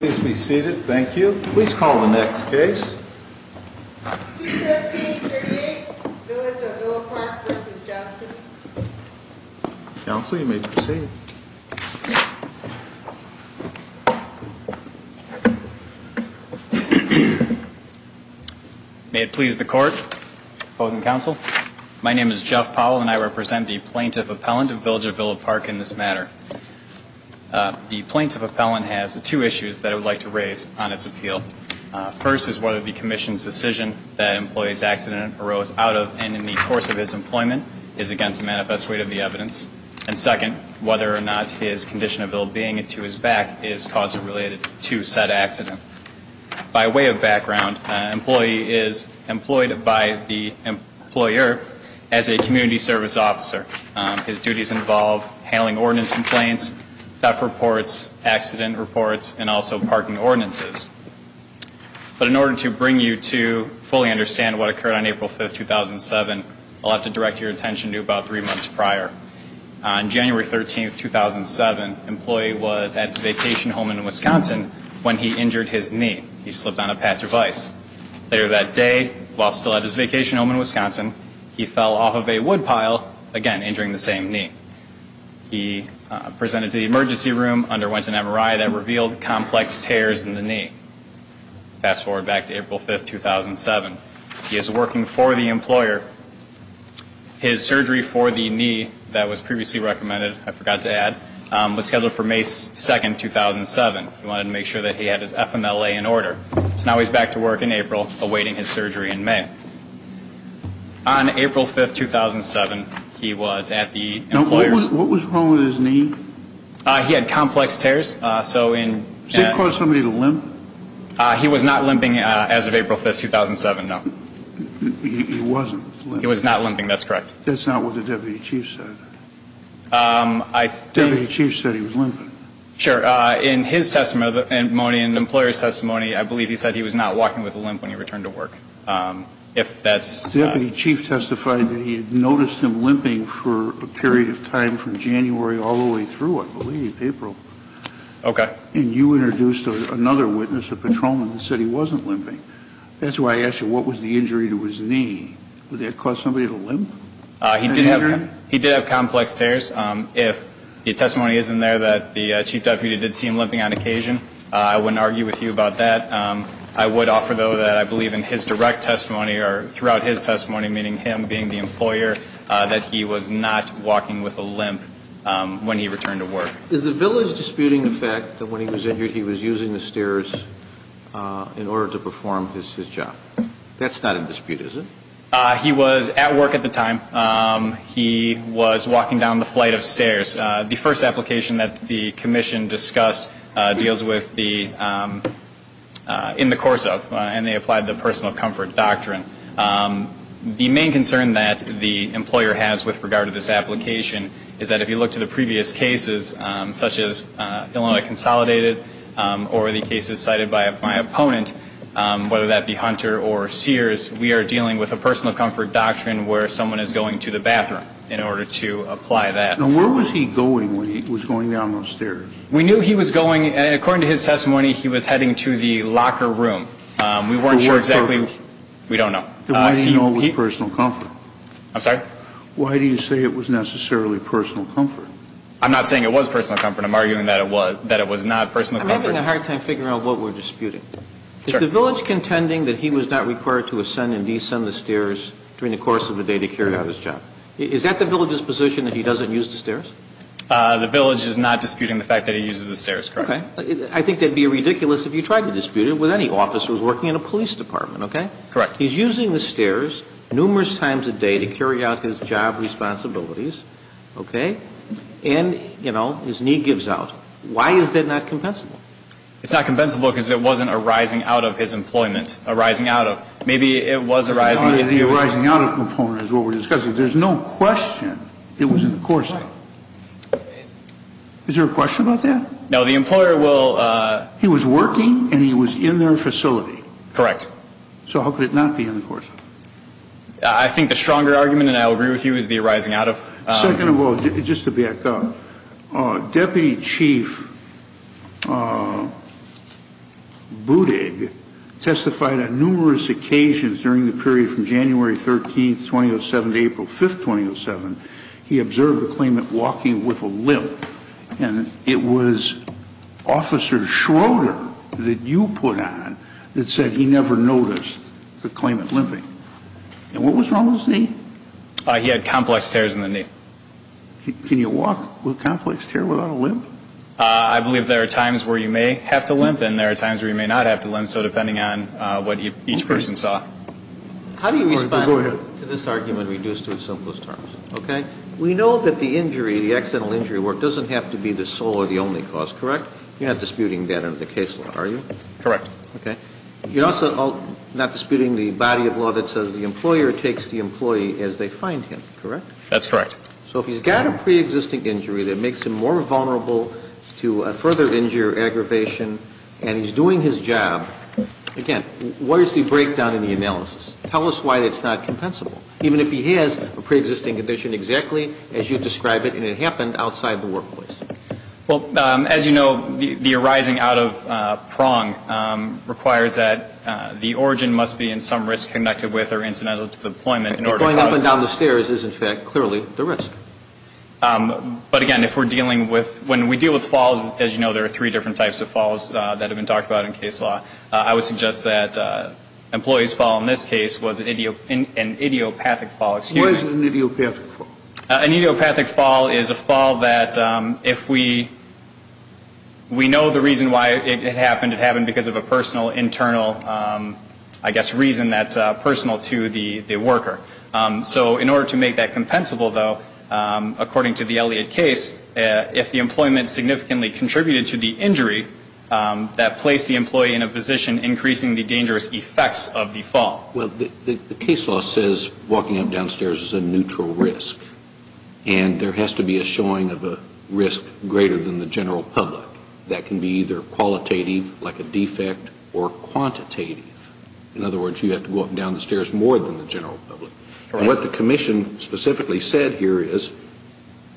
Please be seated, thank you. Please call the next case. C-1338, Village of Villa Park v. Johnson. Counsel, you may proceed. May it please the court. Voting counsel. My name is Jeff Powell and I represent the Plaintiff Appellant of Village of Villa Park in this matter. The Plaintiff Appellant has two issues that I would like to raise on its appeal. First is whether the Commission's decision that an employee's accident arose out of and in the course of his employment is against the manifest weight of the evidence. And second, whether or not his condition of well-being to his back is cause-related to said accident. By way of background, an employee is employed by the employer as a community service officer. His duties involve handling ordinance complaints, theft reports, accident reports, and also parking ordinances. But in order to bring you to fully understand what occurred on April 5, 2007, I'll have to direct your attention to about three months prior. On January 13, 2007, an employee was at his vacation home in Wisconsin when he injured his knee. He slipped on a patch of ice. Later that day, while still at his vacation home in Wisconsin, he fell off of a wood pile, again, injuring the same knee. He presented to the emergency room, underwent an MRI that revealed complex tears in the knee. Fast forward back to April 5, 2007. He is working for the employer. His surgery for the knee that was previously recommended, I forgot to add, was scheduled for May 2, 2007. He wanted to make sure that he had his FMLA in order. So now he's back to work in April, awaiting his surgery in May. On April 5, 2007, he was at the employer's. What was wrong with his knee? He had complex tears. Did it cause somebody to limp? He was not limping as of April 5, 2007, no. He wasn't limping. He was not limping, that's correct. That's not what the deputy chief said. Deputy chief said he was limping. Sure. In his testimony and the employer's testimony, I believe he said he was not walking with a limp when he returned to work. Deputy chief testified that he had noticed him limping for a period of time from January all the way through, I believe, April. Okay. And you introduced another witness, a patrolman, who said he wasn't limping. That's why I asked you, what was the injury to his knee? Did that cause somebody to limp? He did have complex tears. If the testimony isn't there that the chief deputy did see him limping on occasion, I wouldn't argue with you about that. I would offer, though, that I believe in his direct testimony or throughout his testimony, meaning him being the employer, that he was not walking with a limp when he returned to work. Is the village disputing the fact that when he was injured he was using the stairs in order to perform his job? That's not in dispute, is it? He was at work at the time. He was walking down the flight of stairs. The first application that the commission discussed deals with the in the course of, and they applied the personal comfort doctrine. The main concern that the employer has with regard to this application is that if you look to the previous cases, such as Illinois Consolidated or the cases cited by my opponent, whether that be Hunter or Sears, we are dealing with a personal comfort doctrine where someone is going to the bathroom in order to apply that. Now, where was he going when he was going down those stairs? We knew he was going, and according to his testimony, he was heading to the locker room. We weren't sure exactly. We don't know. Why do you know it was personal comfort? I'm sorry? Why do you say it was necessarily personal comfort? I'm not saying it was personal comfort. I'm arguing that it was not personal comfort. I'm having a hard time figuring out what we're disputing. Is the village contending that he was not required to ascend and descend the stairs during the course of the day to carry out his job? Is that the village's position that he doesn't use the stairs? The village is not disputing the fact that he uses the stairs, correct. Okay. I think that would be ridiculous if you tried to dispute it with any officer who is working in a police department, okay? Correct. He's using the stairs numerous times a day to carry out his job responsibilities, okay? And, you know, his knee gives out. Why is that not compensable? It's not compensable because it wasn't arising out of his employment. Arising out of. Maybe it was arising if he was. The arising out of component is what we're discussing. There's no question it was in the corset. Is there a question about that? No. The employer will... He was working and he was in their facility. Correct. So how could it not be in the corset? I think the stronger argument, and I agree with you, is the arising out of... Butig testified on numerous occasions during the period from January 13th, 2007, to April 5th, 2007. He observed a claimant walking with a limp. And it was Officer Schroeder that you put on that said he never noticed the claimant limping. And what was wrong with his knee? He had complex tears in the knee. Can you walk with complex tears without a limp? I believe there are times where you may have to limp and there are times where you may not have to limp. So depending on what each person saw. How do you respond to this argument reduced to its simplest terms? We know that the injury, the accidental injury, doesn't have to be the sole or the only cause, correct? You're not disputing that under the case law, are you? Correct. Okay. You're also not disputing the body of law that says the employer takes the employee as they find him, correct? That's correct. So if he's got a preexisting injury that makes him more vulnerable to further injury or aggravation and he's doing his job, again, what is the breakdown in the analysis? Tell us why it's not compensable. Even if he has a preexisting condition exactly as you describe it and it happened outside the workplace. Well, as you know, the arising out of prong requires that the origin must be in some risk connected with Going up and down the stairs is, in fact, clearly the risk. But again, if we're dealing with, when we deal with falls, as you know, there are three different types of falls that have been talked about in case law. I would suggest that employee's fall in this case was an idiopathic fall. Why is it an idiopathic fall? An idiopathic fall is a fall that if we know the reason why it happened, it happened because of a personal internal, I guess, reason that's personal to the worker. So in order to make that compensable, though, according to the Elliott case, if the employment significantly contributed to the injury, that placed the employee in a position increasing the dangerous effects of the fall. Well, the case law says walking up and down stairs is a neutral risk. And there has to be a showing of a risk greater than the general public. That can be either qualitative, like a defect, or quantitative. In other words, you have to go up and down the stairs more than the general public. And what the commission specifically said here is,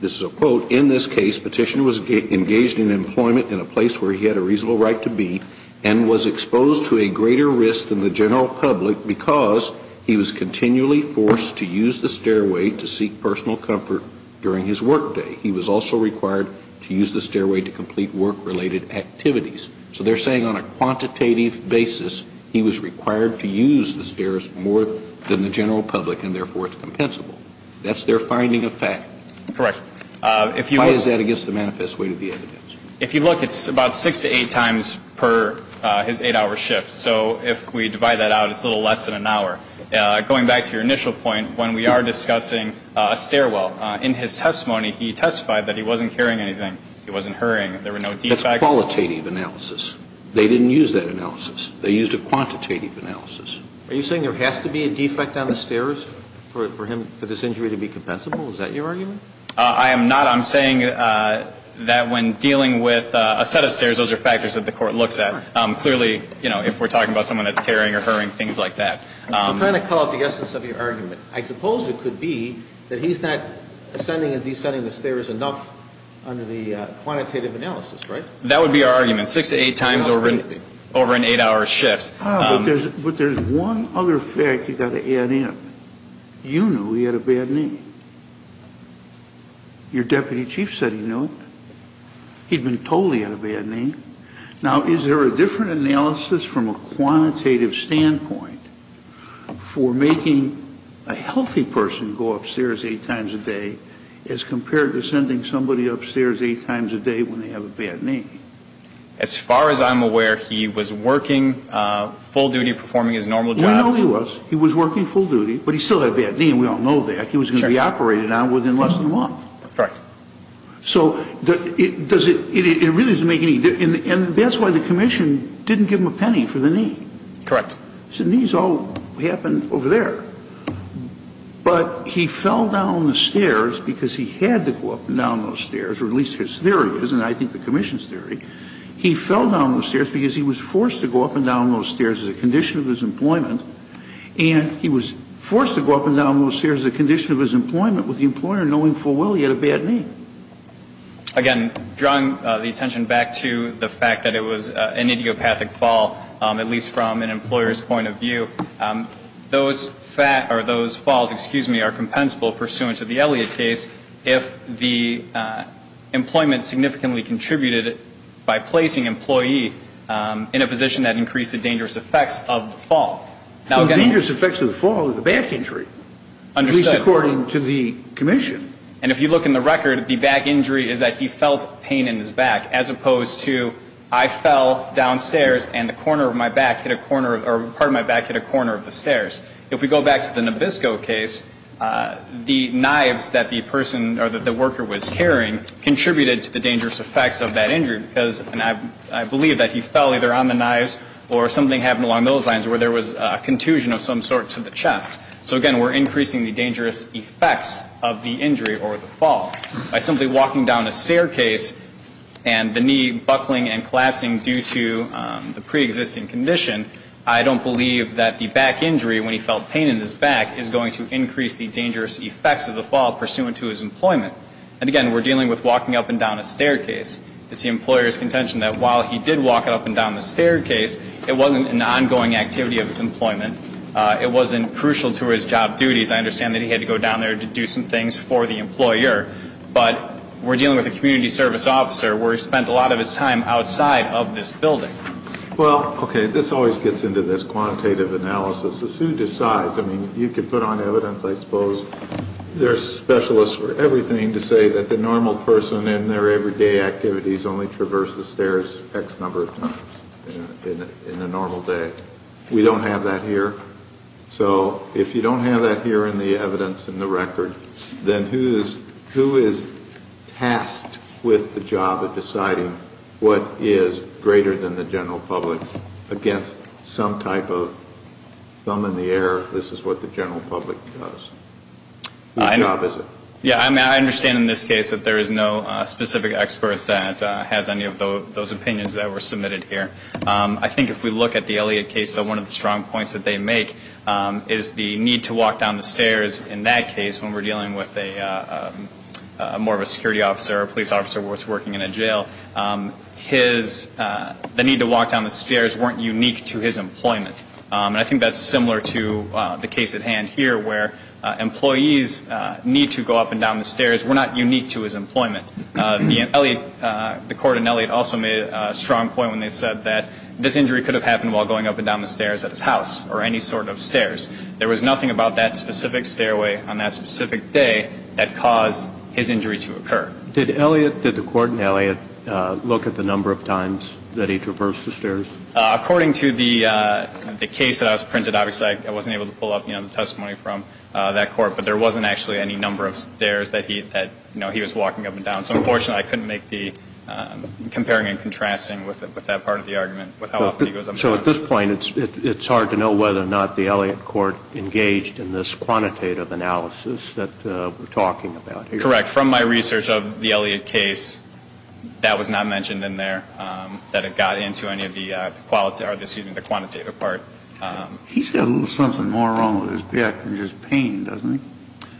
this is a quote, In this case, Petitioner was engaged in employment in a place where he had a reasonable right to be and was exposed to a greater risk than the general public because he was continually forced to use the stairway to seek personal comfort during his work day. He was also required to use the stairway to complete work-related activities. So they're saying on a quantitative basis he was required to use the stairs more than the general public, and therefore it's compensable. That's their finding of fact. Correct. Why is that against the manifest way to the evidence? If you look, it's about six to eight times per his eight-hour shift. So if we divide that out, it's a little less than an hour. Going back to your initial point, when we are discussing a stairwell, in his testimony he testified that he wasn't carrying anything. He wasn't hurrying. There were no defects. That's a qualitative analysis. They didn't use that analysis. They used a quantitative analysis. Are you saying there has to be a defect on the stairs for him, for this injury to be compensable? Is that your argument? I am not. I'm saying that when dealing with a set of stairs, those are factors that the Court looks at. Clearly, you know, if we're talking about someone that's carrying or hurrying, things like that. I'm trying to call out the essence of your argument. I suppose it could be that he's not ascending and descending the stairs enough under the quantitative analysis, right? That would be our argument, six to eight times over an eight-hour shift. But there's one other fact you've got to add in. You knew he had a bad knee. Your deputy chief said he knew it. He'd been told he had a bad knee. Now, is there a different analysis from a quantitative standpoint for making a healthy person go upstairs eight times a day as compared to sending somebody upstairs eight times a day when they have a bad knee? As far as I'm aware, he was working full duty, performing his normal job. We know he was. He was working full duty. But he still had a bad knee, and we all know that. He was going to be operated on within less than a month. Correct. So it really doesn't make any difference. And that's why the commission didn't give him a penny for the knee. Correct. The knee's all happened over there. But he fell down the stairs because he had to go up and down those stairs, or at least his theory is, and I think the commission's theory. He fell down those stairs because he was forced to go up and down those stairs as a condition of his employment. And he was forced to go up and down those stairs as a condition of his employment with the employer knowing full well he had a bad knee. Again, drawing the attention back to the fact that it was an idiopathic fall, at least from an employer's point of view, those falls are compensable pursuant to the Elliott case if the employment significantly contributed by placing employee in a position that increased the dangerous effects of the fall. Now, again. The dangerous effects of the fall is the back injury. Understood. At least according to the commission. And if you look in the record, the back injury is that he felt pain in his back, as opposed to I fell downstairs and the corner of my back hit a corner of the stairs. If we go back to the Nabisco case, the knives that the person or the worker was carrying contributed to the dangerous effects of that injury because, and I believe that he fell either on the knives or something happened along those lines where there was a contusion of some sort to the chest. So, again, we're increasing the dangerous effects of the injury or the fall. By simply walking down a staircase and the knee buckling and collapsing due to the preexisting condition, I don't believe that the back injury, when he felt pain in his back, is going to increase the dangerous effects of the fall pursuant to his employment. And, again, we're dealing with walking up and down a staircase. It's the employer's contention that while he did walk up and down the staircase, it wasn't an ongoing activity of his employment. It wasn't crucial to his job duties. I understand that he had to go down there to do some things for the employer. But we're dealing with a community service officer where he spent a lot of his time outside of this building. Well, okay, this always gets into this quantitative analysis. It's who decides. I mean, you could put on evidence, I suppose. There are specialists for everything to say that the normal person in their everyday activities only traverses stairs X number of times in a normal day. We don't have that here. So if you don't have that here in the evidence in the record, then who is tasked with the job of deciding what is greater than the general public against some type of thumb in the air, this is what the general public does? Whose job is it? Yeah, I mean, I understand in this case that there is no specific expert that has any of those opinions that were submitted here. I think if we look at the Elliott case, one of the strong points that they make is the need to walk down the stairs in that case when we're dealing with more of a security officer or a police officer who's working in a jail. The need to walk down the stairs weren't unique to his employment. And I think that's similar to the case at hand here where employees need to go up and down the stairs. We're not unique to his employment. The court in Elliott also made a strong point when they said that this injury could have happened while going up and down the stairs at his house or any sort of stairs. There was nothing about that specific stairway on that specific day that caused his injury to occur. Did Elliott, did the court in Elliott look at the number of times that he traversed the stairs? According to the case that I was printed, obviously I wasn't able to pull up the testimony from that court, but there wasn't actually any number of stairs that he was walking up and down. So unfortunately, I couldn't make the comparing and contrasting with that part of the argument with how often he goes up and down. So at this point, it's hard to know whether or not the Elliott court engaged in this quantitative analysis that we're talking about here. Correct. From my research of the Elliott case, that was not mentioned in there that it got into any of the quantitative part. He's got a little something more wrong with his back than just pain, doesn't he?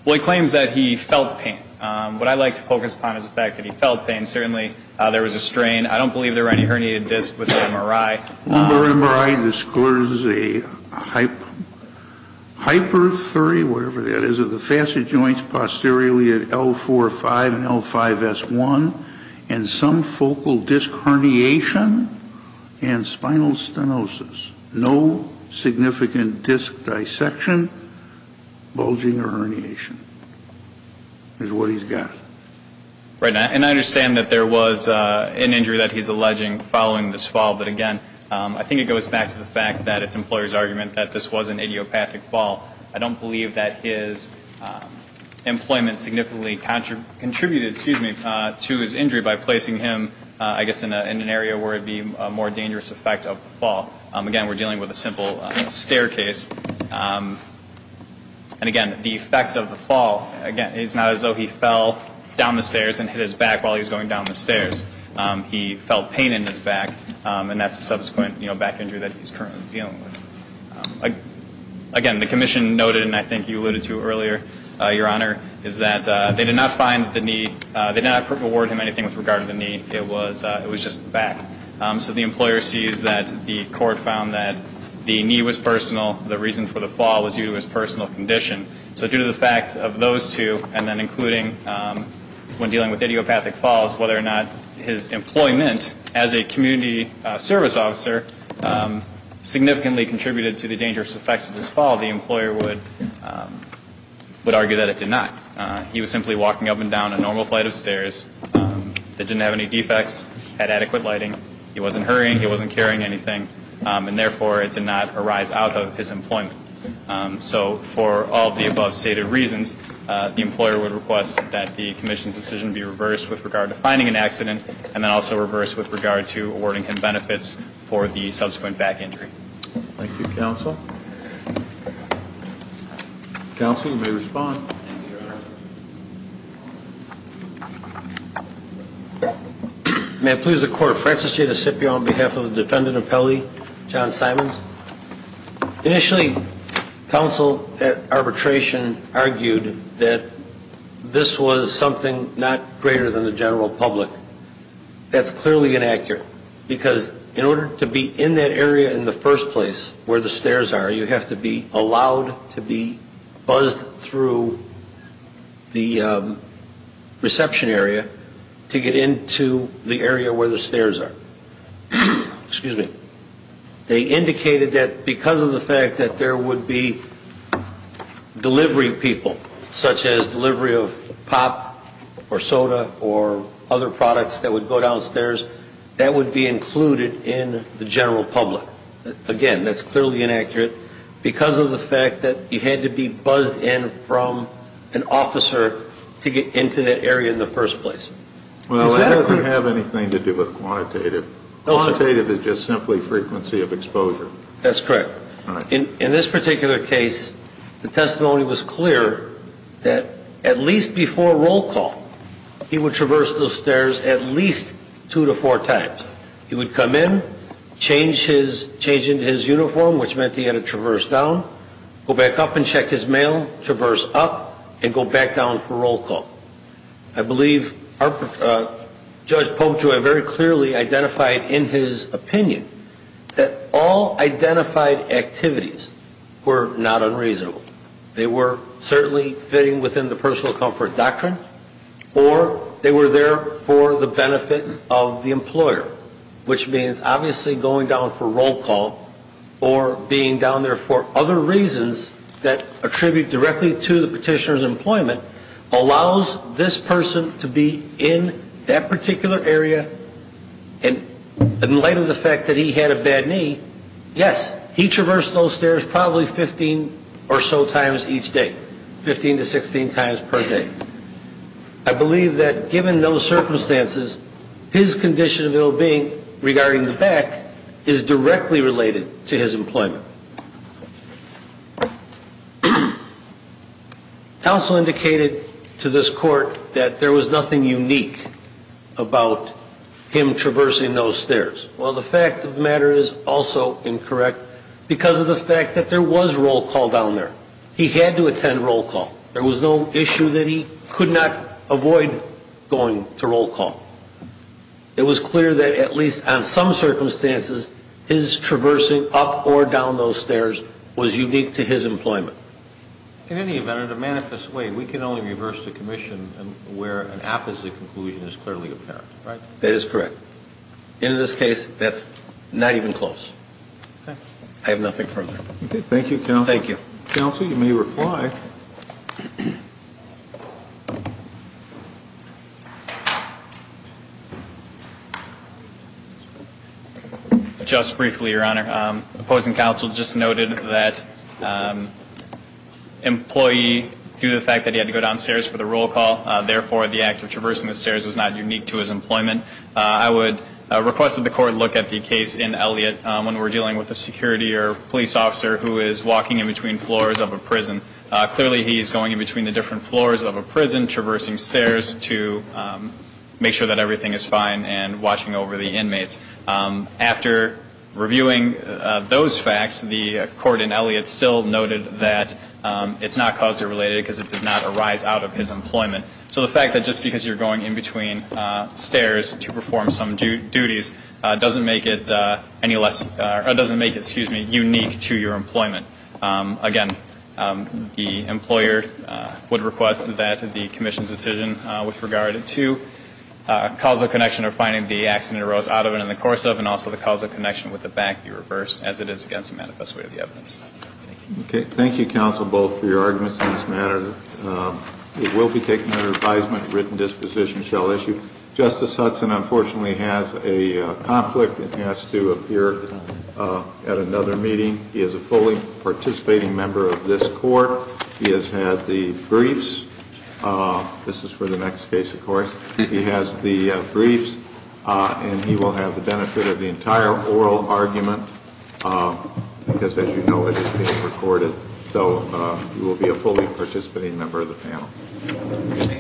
Well, he claims that he felt pain. What I'd like to focus upon is the fact that he felt pain. Certainly there was a strain. I don't believe there were any herniated discs with the MRI. Lumbar MRI discloses a hyperthermia, whatever that is, of the facet joints posteriorly at L4-5 and L5-S1 and some focal disc herniation and spinal stenosis. No significant disc dissection, bulging, or herniation is what he's got. Right. And I understand that there was an injury that he's alleging following this fall. But, again, I think it goes back to the fact that it's employer's argument that this was an idiopathic fall. I don't believe that his employment significantly contributed to his injury by placing him, I guess, in an area where it would be a more dangerous effect of the fall. Again, we're dealing with a simple staircase. And, again, the effects of the fall, again, it's not as though he fell down the stairs and hit his back while he was going down the stairs. He felt pain in his back, and that's a subsequent back injury that he's currently dealing with. Again, the commission noted, and I think you alluded to it earlier, Your Honor, is that they did not find the knee. They did not award him anything with regard to the knee. It was just the back. So the employer sees that the court found that the knee was personal. The reason for the fall was due to his personal condition. So due to the fact of those two, and then including when dealing with idiopathic falls, whether or not his employment as a community service officer significantly contributed to the dangerous effects of his fall, the employer would argue that it did not. He was simply walking up and down a normal flight of stairs that didn't have any defects, had adequate lighting, he wasn't hurrying, he wasn't carrying anything, and, therefore, it did not arise out of his employment. So for all the above stated reasons, the employer would request that the commission's decision be reversed with regard to finding an accident and then also reversed with regard to awarding him benefits for the subsequent back injury. Thank you, counsel. Counsel, you may respond. May I please the court? Francis J. DeCipio on behalf of the defendant appellee, John Simons. Initially, counsel at arbitration argued that this was something not greater than the general public. That's clearly inaccurate, because in order to be in that area in the first place, where the stairs are, you have to be allowed to be buzzed through the reception area to get into the area where the stairs are. Excuse me. They indicated that because of the fact that there would be delivery people, such as delivery of pop or soda or other products that would go downstairs, that would be included in the general public. Again, that's clearly inaccurate because of the fact that you had to be buzzed in from an officer to get into that area in the first place. Well, that doesn't have anything to do with quantitative. Quantitative is just simply frequency of exposure. That's correct. In this particular case, the testimony was clear that at least before roll call, he would traverse those stairs at least two to four times. He would come in, change into his uniform, which meant he had to traverse down, go back up and check his mail, traverse up, and go back down for roll call. I believe Judge Popejoy very clearly identified in his opinion that all identified activities were not unreasonable. They were certainly fitting within the personal comfort doctrine, or they were there for the benefit of the employer, which means obviously going down for roll call or being down there for other reasons that attribute directly to the petitioner's employment allows this person to be in that particular area. And in light of the fact that he had a bad knee, yes, he traversed those stairs probably 15 or so times each day, 15 to 16 times per day. I believe that given those circumstances, his condition of ill-being regarding the back is directly related to his employment. Counsel indicated to this Court that there was nothing unique about him traversing those stairs. Well, the fact of the matter is also incorrect because of the fact that there was roll call down there. He had to attend roll call. There was no issue that he could not avoid going to roll call. It was clear that at least on some circumstances, his traversing up or down those stairs was unique to his employment. In any event, in a manifest way, we can only reverse the commission where an opposite conclusion is clearly apparent, right? That is correct. In this case, that's not even close. Okay. I have nothing further. Okay, thank you, counsel. Thank you. Counsel, you may reply. Just briefly, Your Honor. Opposing counsel just noted that employee, due to the fact that he had to go downstairs for the roll call, therefore the act of traversing the stairs was not unique to his employment. I would request that the Court look at the case in Elliott when we're dealing with a security or police officer who is walking in between floors of a prison. Clearly, he is going in between the different floors of a prison, traversing stairs to make sure that everything is fine and watching over the inmates. After reviewing those facts, the Court in Elliott still noted that it's not causally related because it did not arise out of his employment. So the fact that just because you're going in between stairs to perform some duties doesn't make it any less or doesn't make it, excuse me, unique to your employment. Again, the employer would request that the commission's decision with regard to causal connection or finding the accident arose out of it in the course of and also the causal connection with the bank be reversed as it is against the manifest way of the evidence. Okay. Thank you, counsel, both for your arguments on this matter. It will be taken under advisement. Written disposition shall issue. Justice Hudson, unfortunately, has a conflict and has to appear at another meeting. He is a fully participating member of this Court. He has had the briefs. This is for the next case, of course. He has the briefs, and he will have the benefit of the entire oral argument because, as you know, it is being recorded. So he will be a fully participating member of the panel.